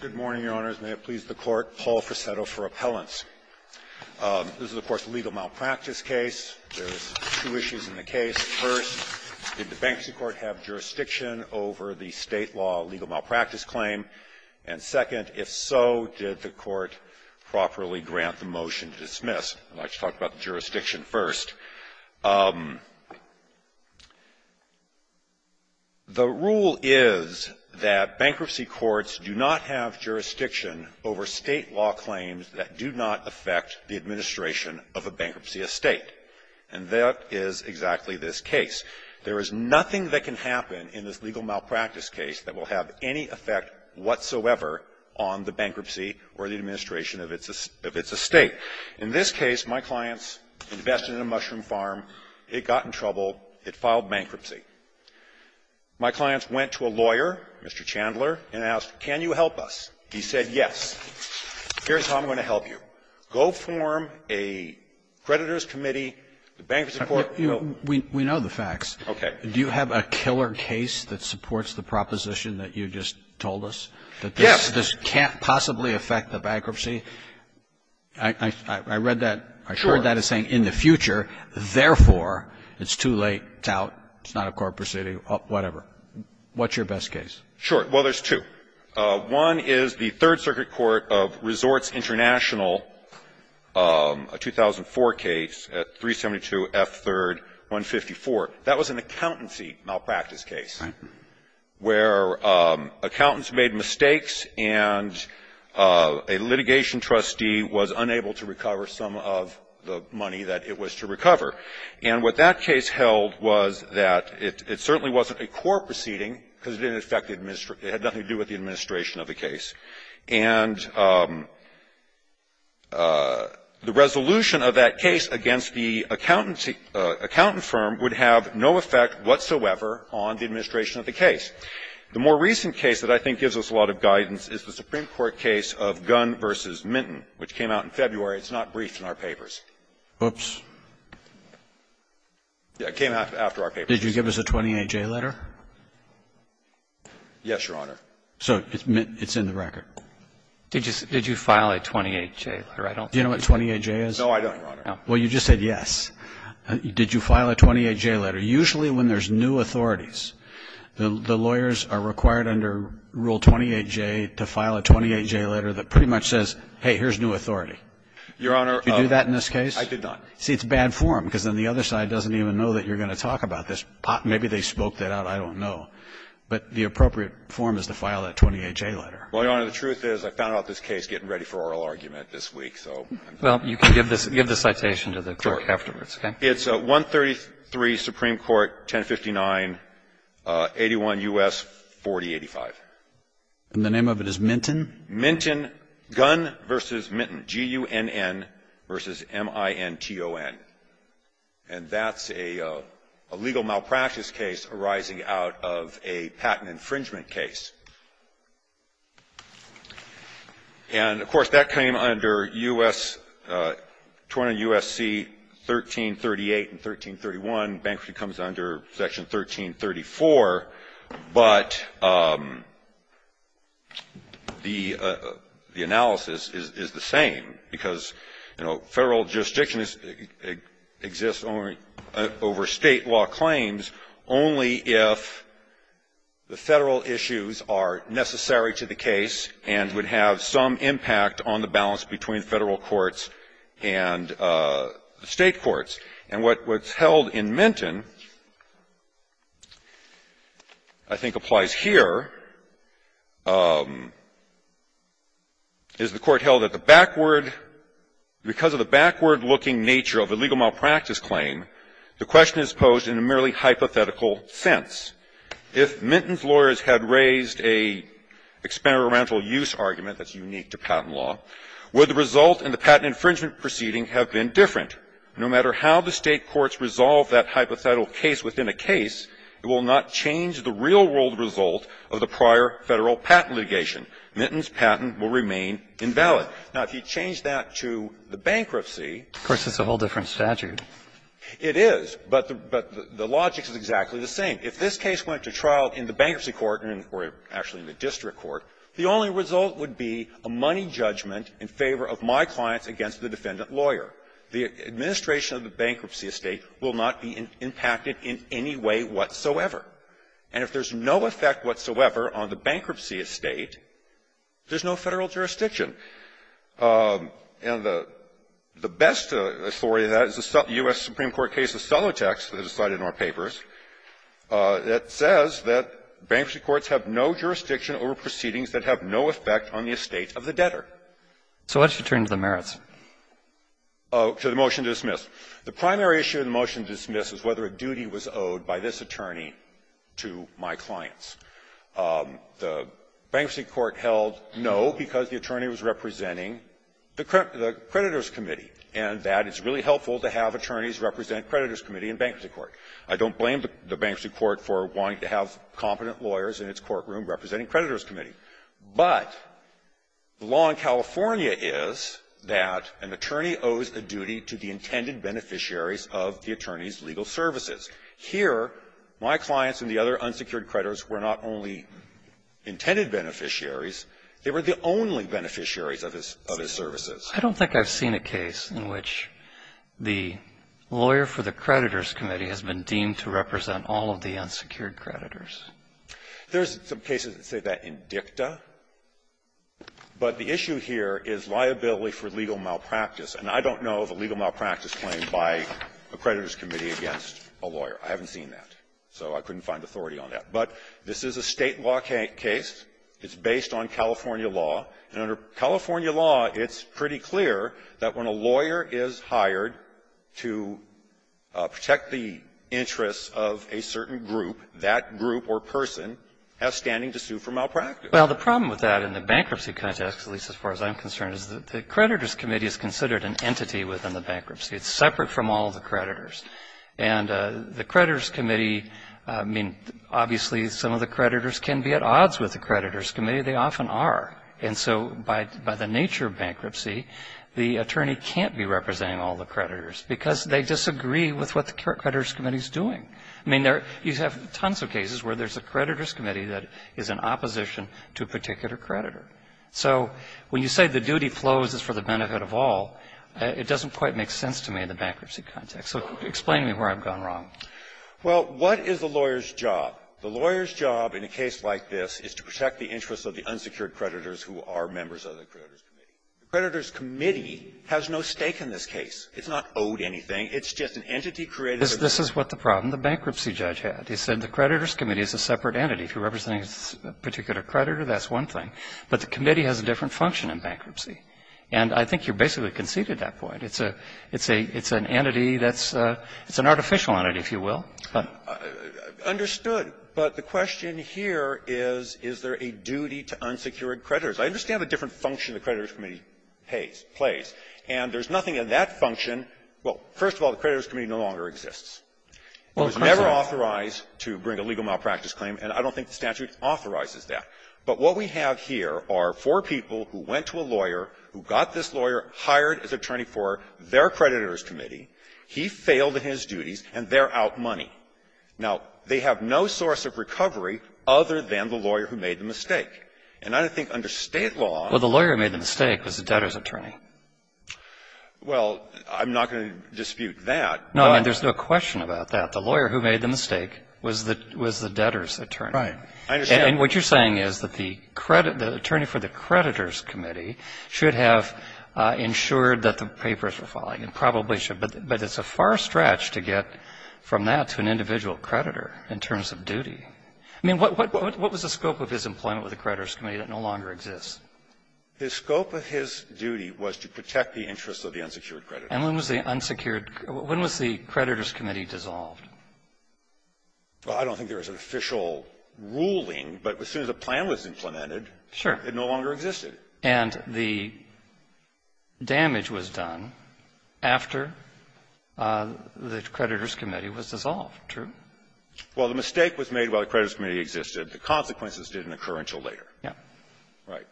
Good morning, Your Honors. May it please the Court. Paul Frasetto for Appellants. This is, of course, a legal malpractice case. There's two issues in the case. First, did the Bankruptcy Court have jurisdiction over the State law legal malpractice claim? And second, if so, did the Court properly grant the motion to dismiss? I'd like to talk about the jurisdiction first. The rule is that Bankruptcy Courts do not have jurisdiction over State law claims that do not affect the administration of a bankruptcy estate. And that is exactly this case. There is nothing that can happen in this legal malpractice case that will have any effect whatsoever on the bankruptcy or the administration of its estate. In this case, my clients invested in a mushroom farm. It got in trouble. It filed bankruptcy. My clients went to a lawyer, Mr. Chandler, and asked, can you help us? He said, yes. Here's how I'm going to help you. Go form a creditors' committee, the Bankruptcy Court will go to you. We know the facts. Okay. Do you have a killer case that supports the proposition that you just told us? Yes. That this can't possibly affect the bankruptcy? I read that as saying, in the future, therefore, it's too late, it's out, it's not a court proceeding, whatever. What's your best case? Sure. Well, there's two. One is the Third Circuit Court of Resorts International, a 2004 case, 372 F. 3rd, 154. That was an accountancy malpractice case. Right. Where accountants made mistakes, and a litigation trustee was unable to recover some of the money that it was to recover. And what that case held was that it certainly wasn't a court proceeding, because it didn't affect the administration of the case. And the resolution of that case against the accountancy accountant firm would have no effect whatsoever on the administration of the case. The more recent case that I think gives us a lot of guidance is the Supreme Court case of Gunn v. Minton, which came out in February. It's not briefed in our papers. Oops. It came out after our papers. Did you give us a 28-J letter? Yes, Your Honor. So it's in the record. Did you file a 28-J letter? I don't think so. Do you know what 28-J is? No, I don't, Your Honor. Well, you just said yes. Did you file a 28-J letter? Usually when there's new authorities, the lawyers are required under Rule 28-J to file a 28-J letter that pretty much says, hey, here's new authority. Your Honor, I did not. Did you do that in this case? See, it's bad form, because then the other side doesn't even know that you're going to talk about this. Maybe they spoke that out. I don't know. But the appropriate form is to file that 28-J letter. Well, Your Honor, the truth is I found out this case getting ready for oral argument this week, so I'm sorry. Well, you can give the citation to the court afterwards, okay? It's 133 Supreme Court, 1059, 81 U.S., 4085. And the name of it is Minton? Minton, Gunn v. Minton, G-U-N-N v. M-I-N-T-O-N. And that's a legal malpractice arising out of a patent infringement case. And, of course, that came under U.S. 20 U.S.C. 1338 and 1331. Bankruptcy comes under Section 1334. But the analysis is the same, because, you know, Federal jurisdiction exists over State law claims only if the Federal issues are necessary to the case and would have some impact on the balance between Federal courts and the State courts. And what's held in Minton I think applies here, is the court held that the backward looking nature of a legal malpractice claim, the question is posed in a merely hypothetical sense. If Minton's lawyers had raised a experimental use argument that's unique to patent law, would the result in the patent infringement proceeding have been different? No matter how the State courts resolve that hypothetical case within a case, it will not change the real-world result of the prior Federal patent litigation. Minton's patent will remain invalid. Now, if you change that to the bankruptcy Of course, it's a whole different statute. It is. But the logic is exactly the same. If this case went to trial in the bankruptcy court or actually in the district court, the only result would be a money judgment in favor of my clients against the defendant lawyer. The administration of the bankruptcy estate will not be impacted in any way whatsoever. And if there's no effect whatsoever on the bankruptcy estate, there's no Federal jurisdiction. And the best authority to that is the U.S. Supreme Court case of Solotex that is cited in our papers that says that bankruptcy courts have no jurisdiction over proceedings that have no effect on the estate of the debtor. So what's returned to the merits? To the motion to dismiss. The primary issue in the motion to dismiss is whether a duty was owed by this attorney to my clients. The bankruptcy court held no because the attorney was representing the creditor's committee, and that it's really helpful to have attorneys represent creditor's committee in bankruptcy court. I don't blame the bankruptcy court for wanting to have competent lawyers in its courtroom representing creditor's committee. But the law in California is that an attorney owes a duty to the intended beneficiaries of the attorney's legal services. Here, my clients and the other unsecured creditors were not only intended beneficiaries. They were the only beneficiaries of his services. I don't think I've seen a case in which the lawyer for the creditor's committee has been deemed to represent all of the unsecured creditors. There's some cases that say that in dicta. But the issue here is liability for legal malpractice. And I don't know of a legal malpractice claim by a creditor's committee against a lawyer. I haven't seen that. So I couldn't find authority on that. But this is a State law case. It's based on California law. And under California law, it's pretty clear that when a lawyer is hired to protect the interests of a certain group, that group or person has standing to sue for malpractice. Well, the problem with that in the bankruptcy context, at least as far as I'm concerned, is that the creditor's committee is considered an entity within the bankruptcy. It's separate from all the creditors. And the creditor's committee, I mean, obviously some of the creditors can be at odds with the creditor's committee. They often are. And so by the nature of bankruptcy, the attorney can't be representing all the creditors because they disagree with what the creditor's committee is doing. I mean, you have tons of cases where there's a creditor's committee that is in opposition to a particular creditor. So when you say the duty flows is for the benefit of all, it doesn't quite make sense to me in the bankruptcy context. So explain to me where I've gone wrong. Well, what is the lawyer's job? The lawyer's job in a case like this is to protect the interests of the unsecured creditors who are members of the creditor's committee. The creditor's committee has no stake in this case. It's not owed anything. It's just an entity created by the creditors. This is what the problem the bankruptcy judge had. He said the creditor's committee is a separate entity. If you're representing a particular creditor, that's one thing. But the committee has a different function in bankruptcy. And I think you basically conceded that point. It's a — it's a — it's an entity that's a — it's an artificial entity, if you will. But — I understood. But the question here is, is there a duty to unsecured creditors? I understand the different function the creditor's committee pays — plays. And there's nothing in that function — well, first of all, the creditor's committee no longer exists. Well, of course not. It was never authorized to bring a legal malpractice claim. And I don't think the statute authorizes that. But what we have here are four people who went to a lawyer, who got this lawyer, hired as attorney for their creditor's committee. He failed in his duties, and they're out money. Now, they have no source of recovery other than the lawyer who made the mistake. And I think under State law — Well, the lawyer who made the mistake was the debtor's attorney. Well, I'm not going to dispute that. No, I mean, there's no question about that. The lawyer who made the mistake was the debtor's attorney. Right. I understand. And what you're saying is that the attorney for the creditor's committee should have ensured that the papers were filing, and probably should. But it's a far stretch to get from that to an individual creditor in terms of duty. I mean, what was the scope of his employment with the creditor's committee that no longer exists? The scope of his duty was to protect the interests of the unsecured creditor. And when was the unsecured — when was the creditor's committee dissolved? Well, I don't think there was an official ruling, but as soon as a plan was implemented, it no longer existed. Sure. And the damage was done after the creditor's committee was dissolved, true? Well, the mistake was made while the creditor's committee existed. The consequences did occur until later. Yeah. Right.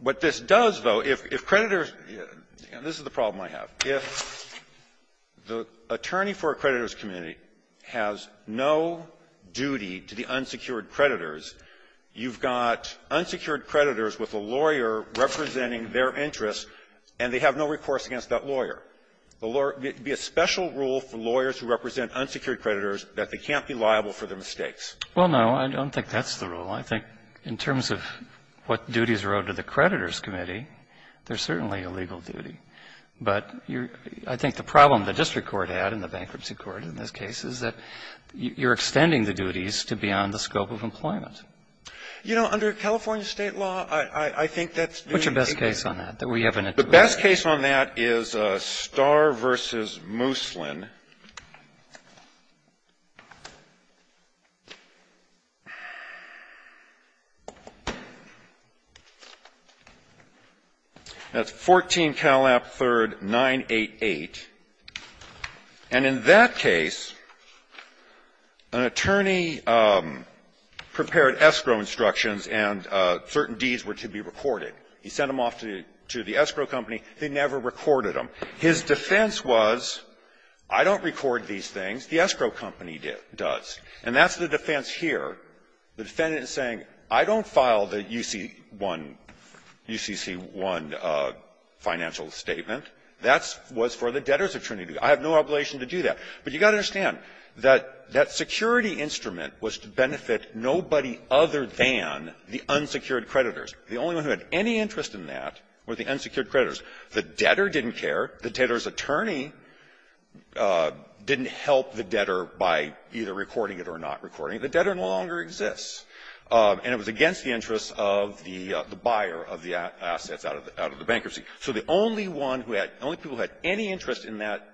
What this does, though, if creditors — and this is the problem I have. If the attorney for a creditor's committee has no duty to the unsecured creditors, you've got unsecured creditors with a lawyer representing their interests, and they have no recourse against that lawyer. The lawyer — it would be a special rule for lawyers who represent unsecured creditors that they can't be liable for their mistakes. Well, no. I don't think that's the rule. I think in terms of what duties are owed to the creditor's committee, there's certainly a legal duty. But I think the problem the district court had and the bankruptcy court in this case is that you're extending the duties to beyond the scope of employment. You know, under California State law, I think that's doing — What's your best case on that, that we have an intuitive — The best case on that is Starr v. Moosland. That's 14 Calap. 3rd. 988. And in that case, an attorney prepared escrow instructions, and certain deeds were to be recorded. He sent them off to the escrow company. They never recorded them. His defense was, I don't record these things. The escrow company does. And that's the defense here. The defendant is saying, I don't file the UCC-1 — UCC-1 financial statement. That was for the debtors of Trinity. I have no obligation to do that. But you've got to understand that that security instrument was to benefit nobody other than the unsecured creditors. The only ones who had any interest in that were the unsecured creditors. The debtor didn't care. The debtor's attorney didn't help the debtor by either recording it or not recording it. The debtor no longer exists. And it was against the interests of the buyer of the assets out of the bankruptcy. So the only one who had — only people who had any interest in that,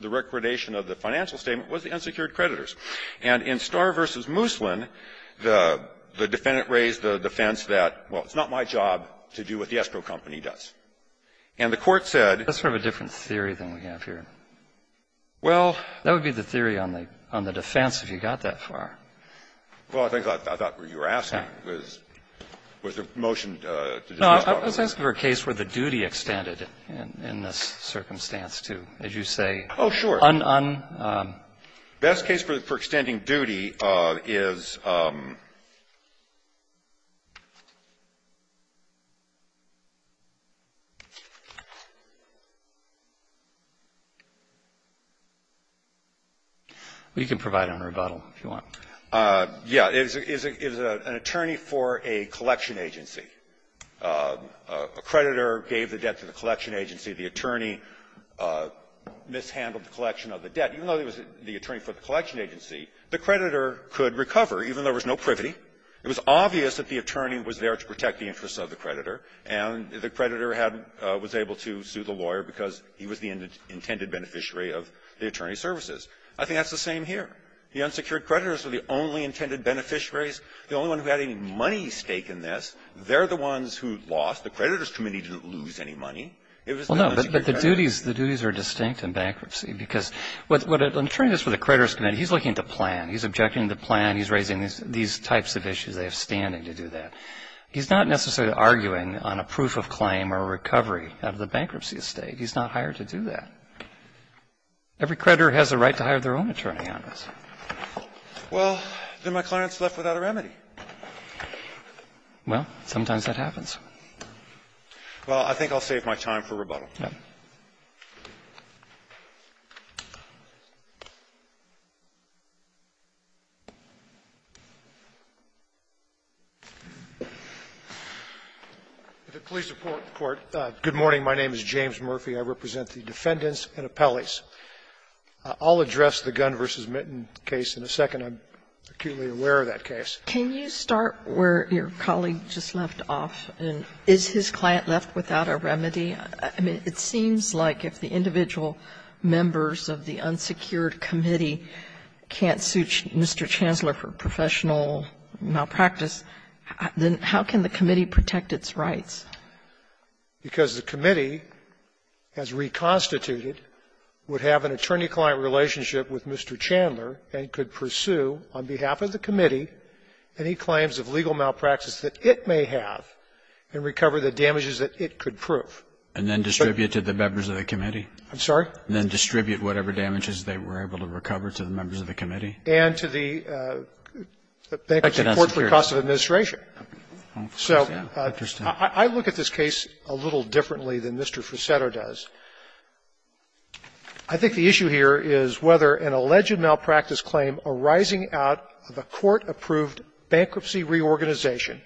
the recordation of the financial statement, was the unsecured creditors. And in Starr v. Moosland, the defendant raised the defense that, well, it's not my job to do what the escrow company does. And the Court said — That's sort of a different theory than we have here. Well — That would be the theory on the defense if you got that far. Well, I think I thought what you were asking was, was the motion to dismiss Congress. No, I was asking for a case where the duty extended in this circumstance, too. As you say — Oh, sure. Un — Best case for extending duty is — Well, you can provide a rebuttal if you want. Yeah. It was an attorney for a collection agency. A creditor gave the debt to the collection agency. The attorney mishandled the collection of the debt. Even though he was the attorney for the collection agency, the creditor could recover, even though there was no privity. It was obvious that the attorney was there to protect the interests of the creditor, and the creditor had — was able to sue the lawyer because he was the intended beneficiary of the attorney's services. I think that's the same here. The unsecured creditors were the only intended beneficiaries. The only one who had any money at stake in this, they're the ones who lost. The creditors' committee didn't lose any money. It was the unsecured creditors. Well, no, but the duties — the duties are distinct in bankruptcy, because what an attorney does for the creditors' committee, he's looking at the plan. He's objecting to the plan. He's raising these types of issues. They have standing to do that. He's not necessarily arguing on a proof of claim or a recovery out of the bankruptcy estate. He's not hired to do that. Every creditor has the right to hire their own attorney on this. Well, then my client's left without a remedy. Well, I think I'll save my time for rebuttal. If it please the Court, good morning. My name is James Murphy. I represent the defendants and appellees. I'll address the Gunn v. Mitten case in a second. I'm acutely aware of that case. Can you start where your colleague just left off? Is his client left without a remedy? I mean, it seems like if the individual members of the unsecured committee can't suit Mr. Chandler for professional malpractice, then how can the committee protect its rights? Because the committee, as reconstituted, would have an attorney-client relationship with Mr. Chandler and could pursue on behalf of the committee any claims of legal And then distribute to the members of the committee? I'm sorry? And then distribute whatever damages they were able to recover to the members of the committee? And to the bankruptcy court for the cost of administration. So I look at this case a little differently than Mr. Frusetto does. I think the issue here is whether an alleged malpractice claim arising out of a court-approved bankruptcy reorganization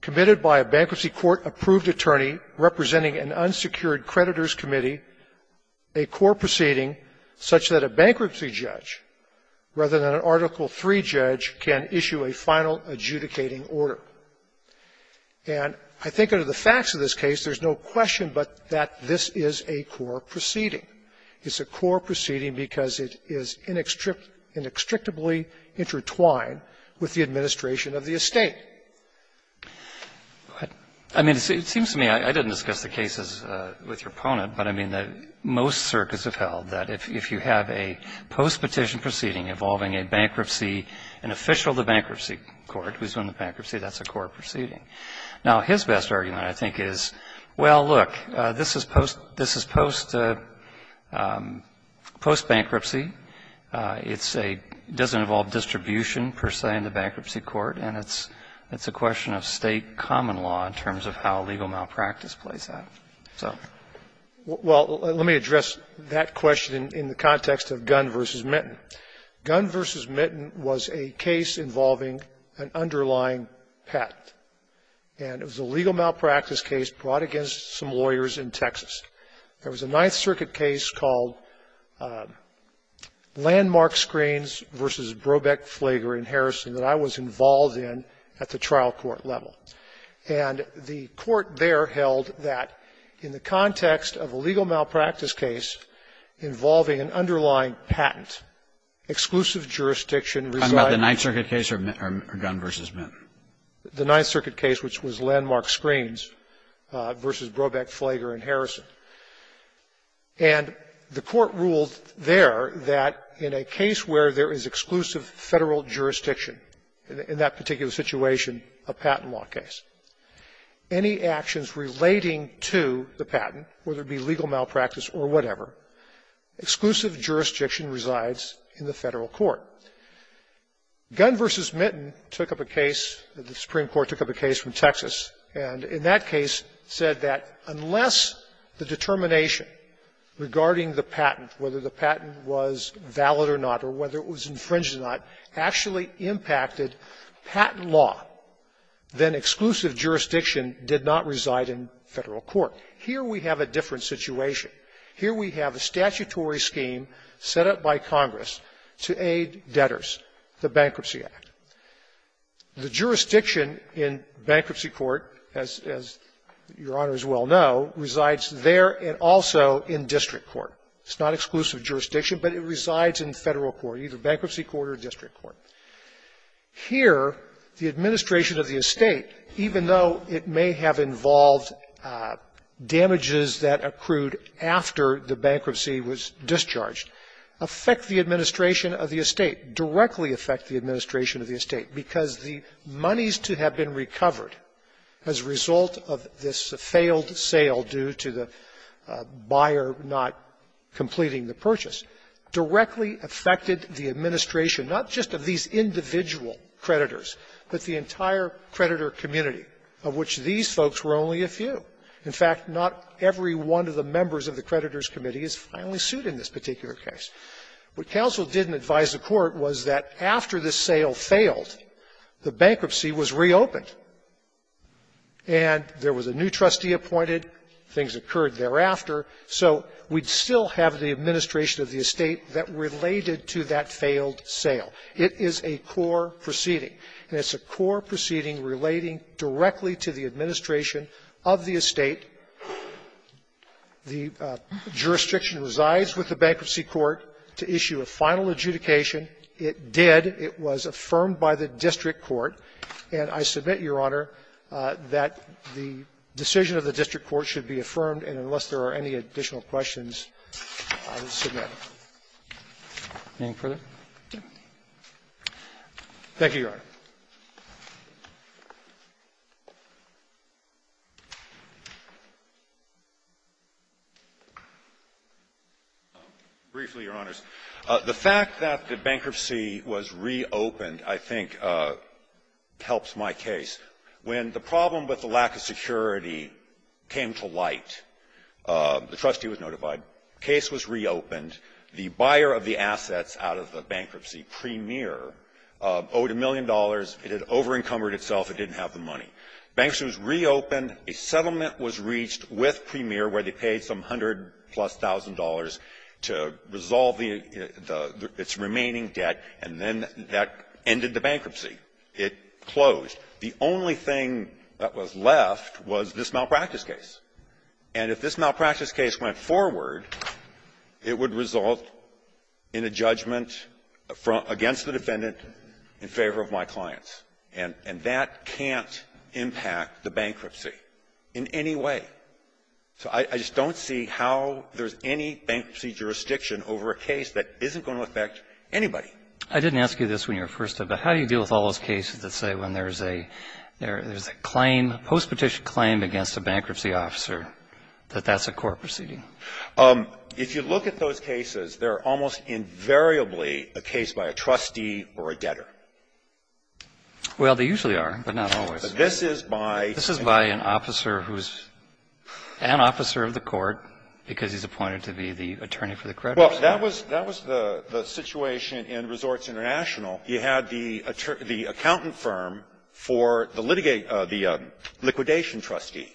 committed by a bankruptcy court-approved attorney representing an unsecured creditors' committee, a core proceeding such that a bankruptcy judge rather than an Article III judge can issue a final adjudicating order. And I think under the facts of this case, there's no question but that this is a core proceeding. It's a core proceeding because it is inextricably intertwined with the administration of the estate. I mean, it seems to me, I didn't discuss the cases with your opponent, but I mean, most circuits have held that if you have a post-petition proceeding involving a bankruptcy, an official of the bankruptcy court who's in the bankruptcy, that's a core proceeding. Now, his best argument, I think, is, well, look, this is post-bankruptcy. It doesn't involve distribution, per se, in the bankruptcy court. And it's a question of state common law in terms of how legal malpractice plays out. So. Well, let me address that question in the context of Gunn v. Mitten. Gunn v. Mitten was a case involving an underlying patent. And it was a legal malpractice case brought against some lawyers in Texas. There was a Ninth Circuit case called Landmark Screens v. Brobeck, Flager & Harrison that I was involved in at the trial court level. And the court there held that in the context of a legal malpractice case involving an underlying patent, exclusive jurisdiction resides in the Ninth Circuit case or Gunn v. Mitten? The Ninth Circuit case, which was Landmark Screens v. Brobeck, Flager & Harrison. And the court ruled there that in a case where there is exclusive Federal jurisdiction, in that particular situation, a patent law case, any actions relating to the patent, whether it be legal malpractice or whatever, exclusive jurisdiction resides in the Federal court. Gunn v. Mitten took up a case, the Supreme Court took up a case from Texas, and in that case said that unless the determination regarding the patent, whether the patent was valid or not or whether it was infringed or not, actually impacted patent law, then exclusive jurisdiction did not reside in Federal court. Here we have a different situation. Here we have a statutory scheme set up by Congress to aid debtors, the Bankruptcy Act. The jurisdiction in bankruptcy court, as Your Honor is well know, resides there and also in district court. It's not exclusive jurisdiction, but it resides in Federal court, either bankruptcy court or district court. Here, the administration of the estate, even though it may have involved damages that accrued after the bankruptcy was discharged, affect the administration of the estate, directly affect the administration of the estate, because the moneys to have been recovered as a result of this failed sale due to the buyer not completing the purchase, directly affected the administration, not just of these individual creditors, but the entire creditor community, of which these folks were only a few. In fact, not every one of the members of the creditors' committee is finally sued in this particular case. What counsel didn't advise the Court was that after this sale failed, the bankruptcy was reopened, and there was a new trustee appointed, things occurred thereafter, so we'd still have the administration of the estate that related to that failed sale. It is a core proceeding, and it's a core proceeding relating directly to the administration of the estate. The jurisdiction resides with the Bankruptcy Court to issue a final adjudication. It did. It was affirmed by the district court. And I submit, Your Honor, that the decision of the district court should be affirmed. And unless there are any additional questions, I will submit it. Thank you, Your Honor. Briefly, Your Honors, the fact that the bankruptcy was reopened, I think, helps my case. When the problem with the lack of security came to light, the trustee was notified. The case was reopened. The buyer of the assets out of the bankruptcy, Premier, owed a million dollars. It had over-encumbered itself. It didn't have the money. Bankruptcy was reopened. A settlement was reached with Premier where they paid some hundred-plus thousand dollars to resolve its remaining debt, and then that ended the bankruptcy. It closed. The only thing that was left was this malpractice case. And if this malpractice case went forward, it would result in a judgment against the defendant in favor of my clients. And that can't impact the bankruptcy in any way. So I just don't see how there's any bankruptcy jurisdiction over a case that isn't going to affect anybody. I didn't ask you this when you were first up, but how do you deal with all those cases that say when there's a claim, a postpetition claim against a bankruptcy officer, that that's a court proceeding? If you look at those cases, they're almost invariably a case by a trustee or a debtor. Well, they usually are, but not always. This is by an officer who's an officer of the court because he's appointed to be the attorney for the creditors. Well, that was the situation in Resorts International. You had the accountant firm for the liquidation trustee.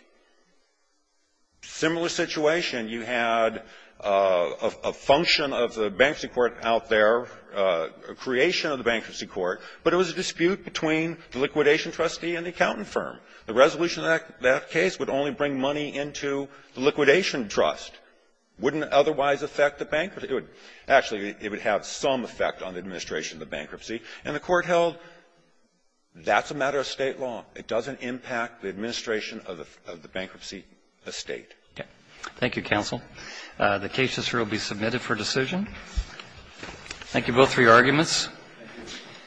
Similar situation, you had a function of the bankruptcy court out there, a creation of the bankruptcy court, but it was a dispute between the liquidation trustee and the accountant firm. The resolution of that case would only bring money into the liquidation trust. Wouldn't it otherwise affect the bankruptcy? Actually, it would have some effect on the administration of the bankruptcy. And the court held that's a matter of State law. It doesn't impact the administration of the bankruptcy estate. Okay. Thank you, counsel. The case will be submitted for decision. Thank you both for your arguments.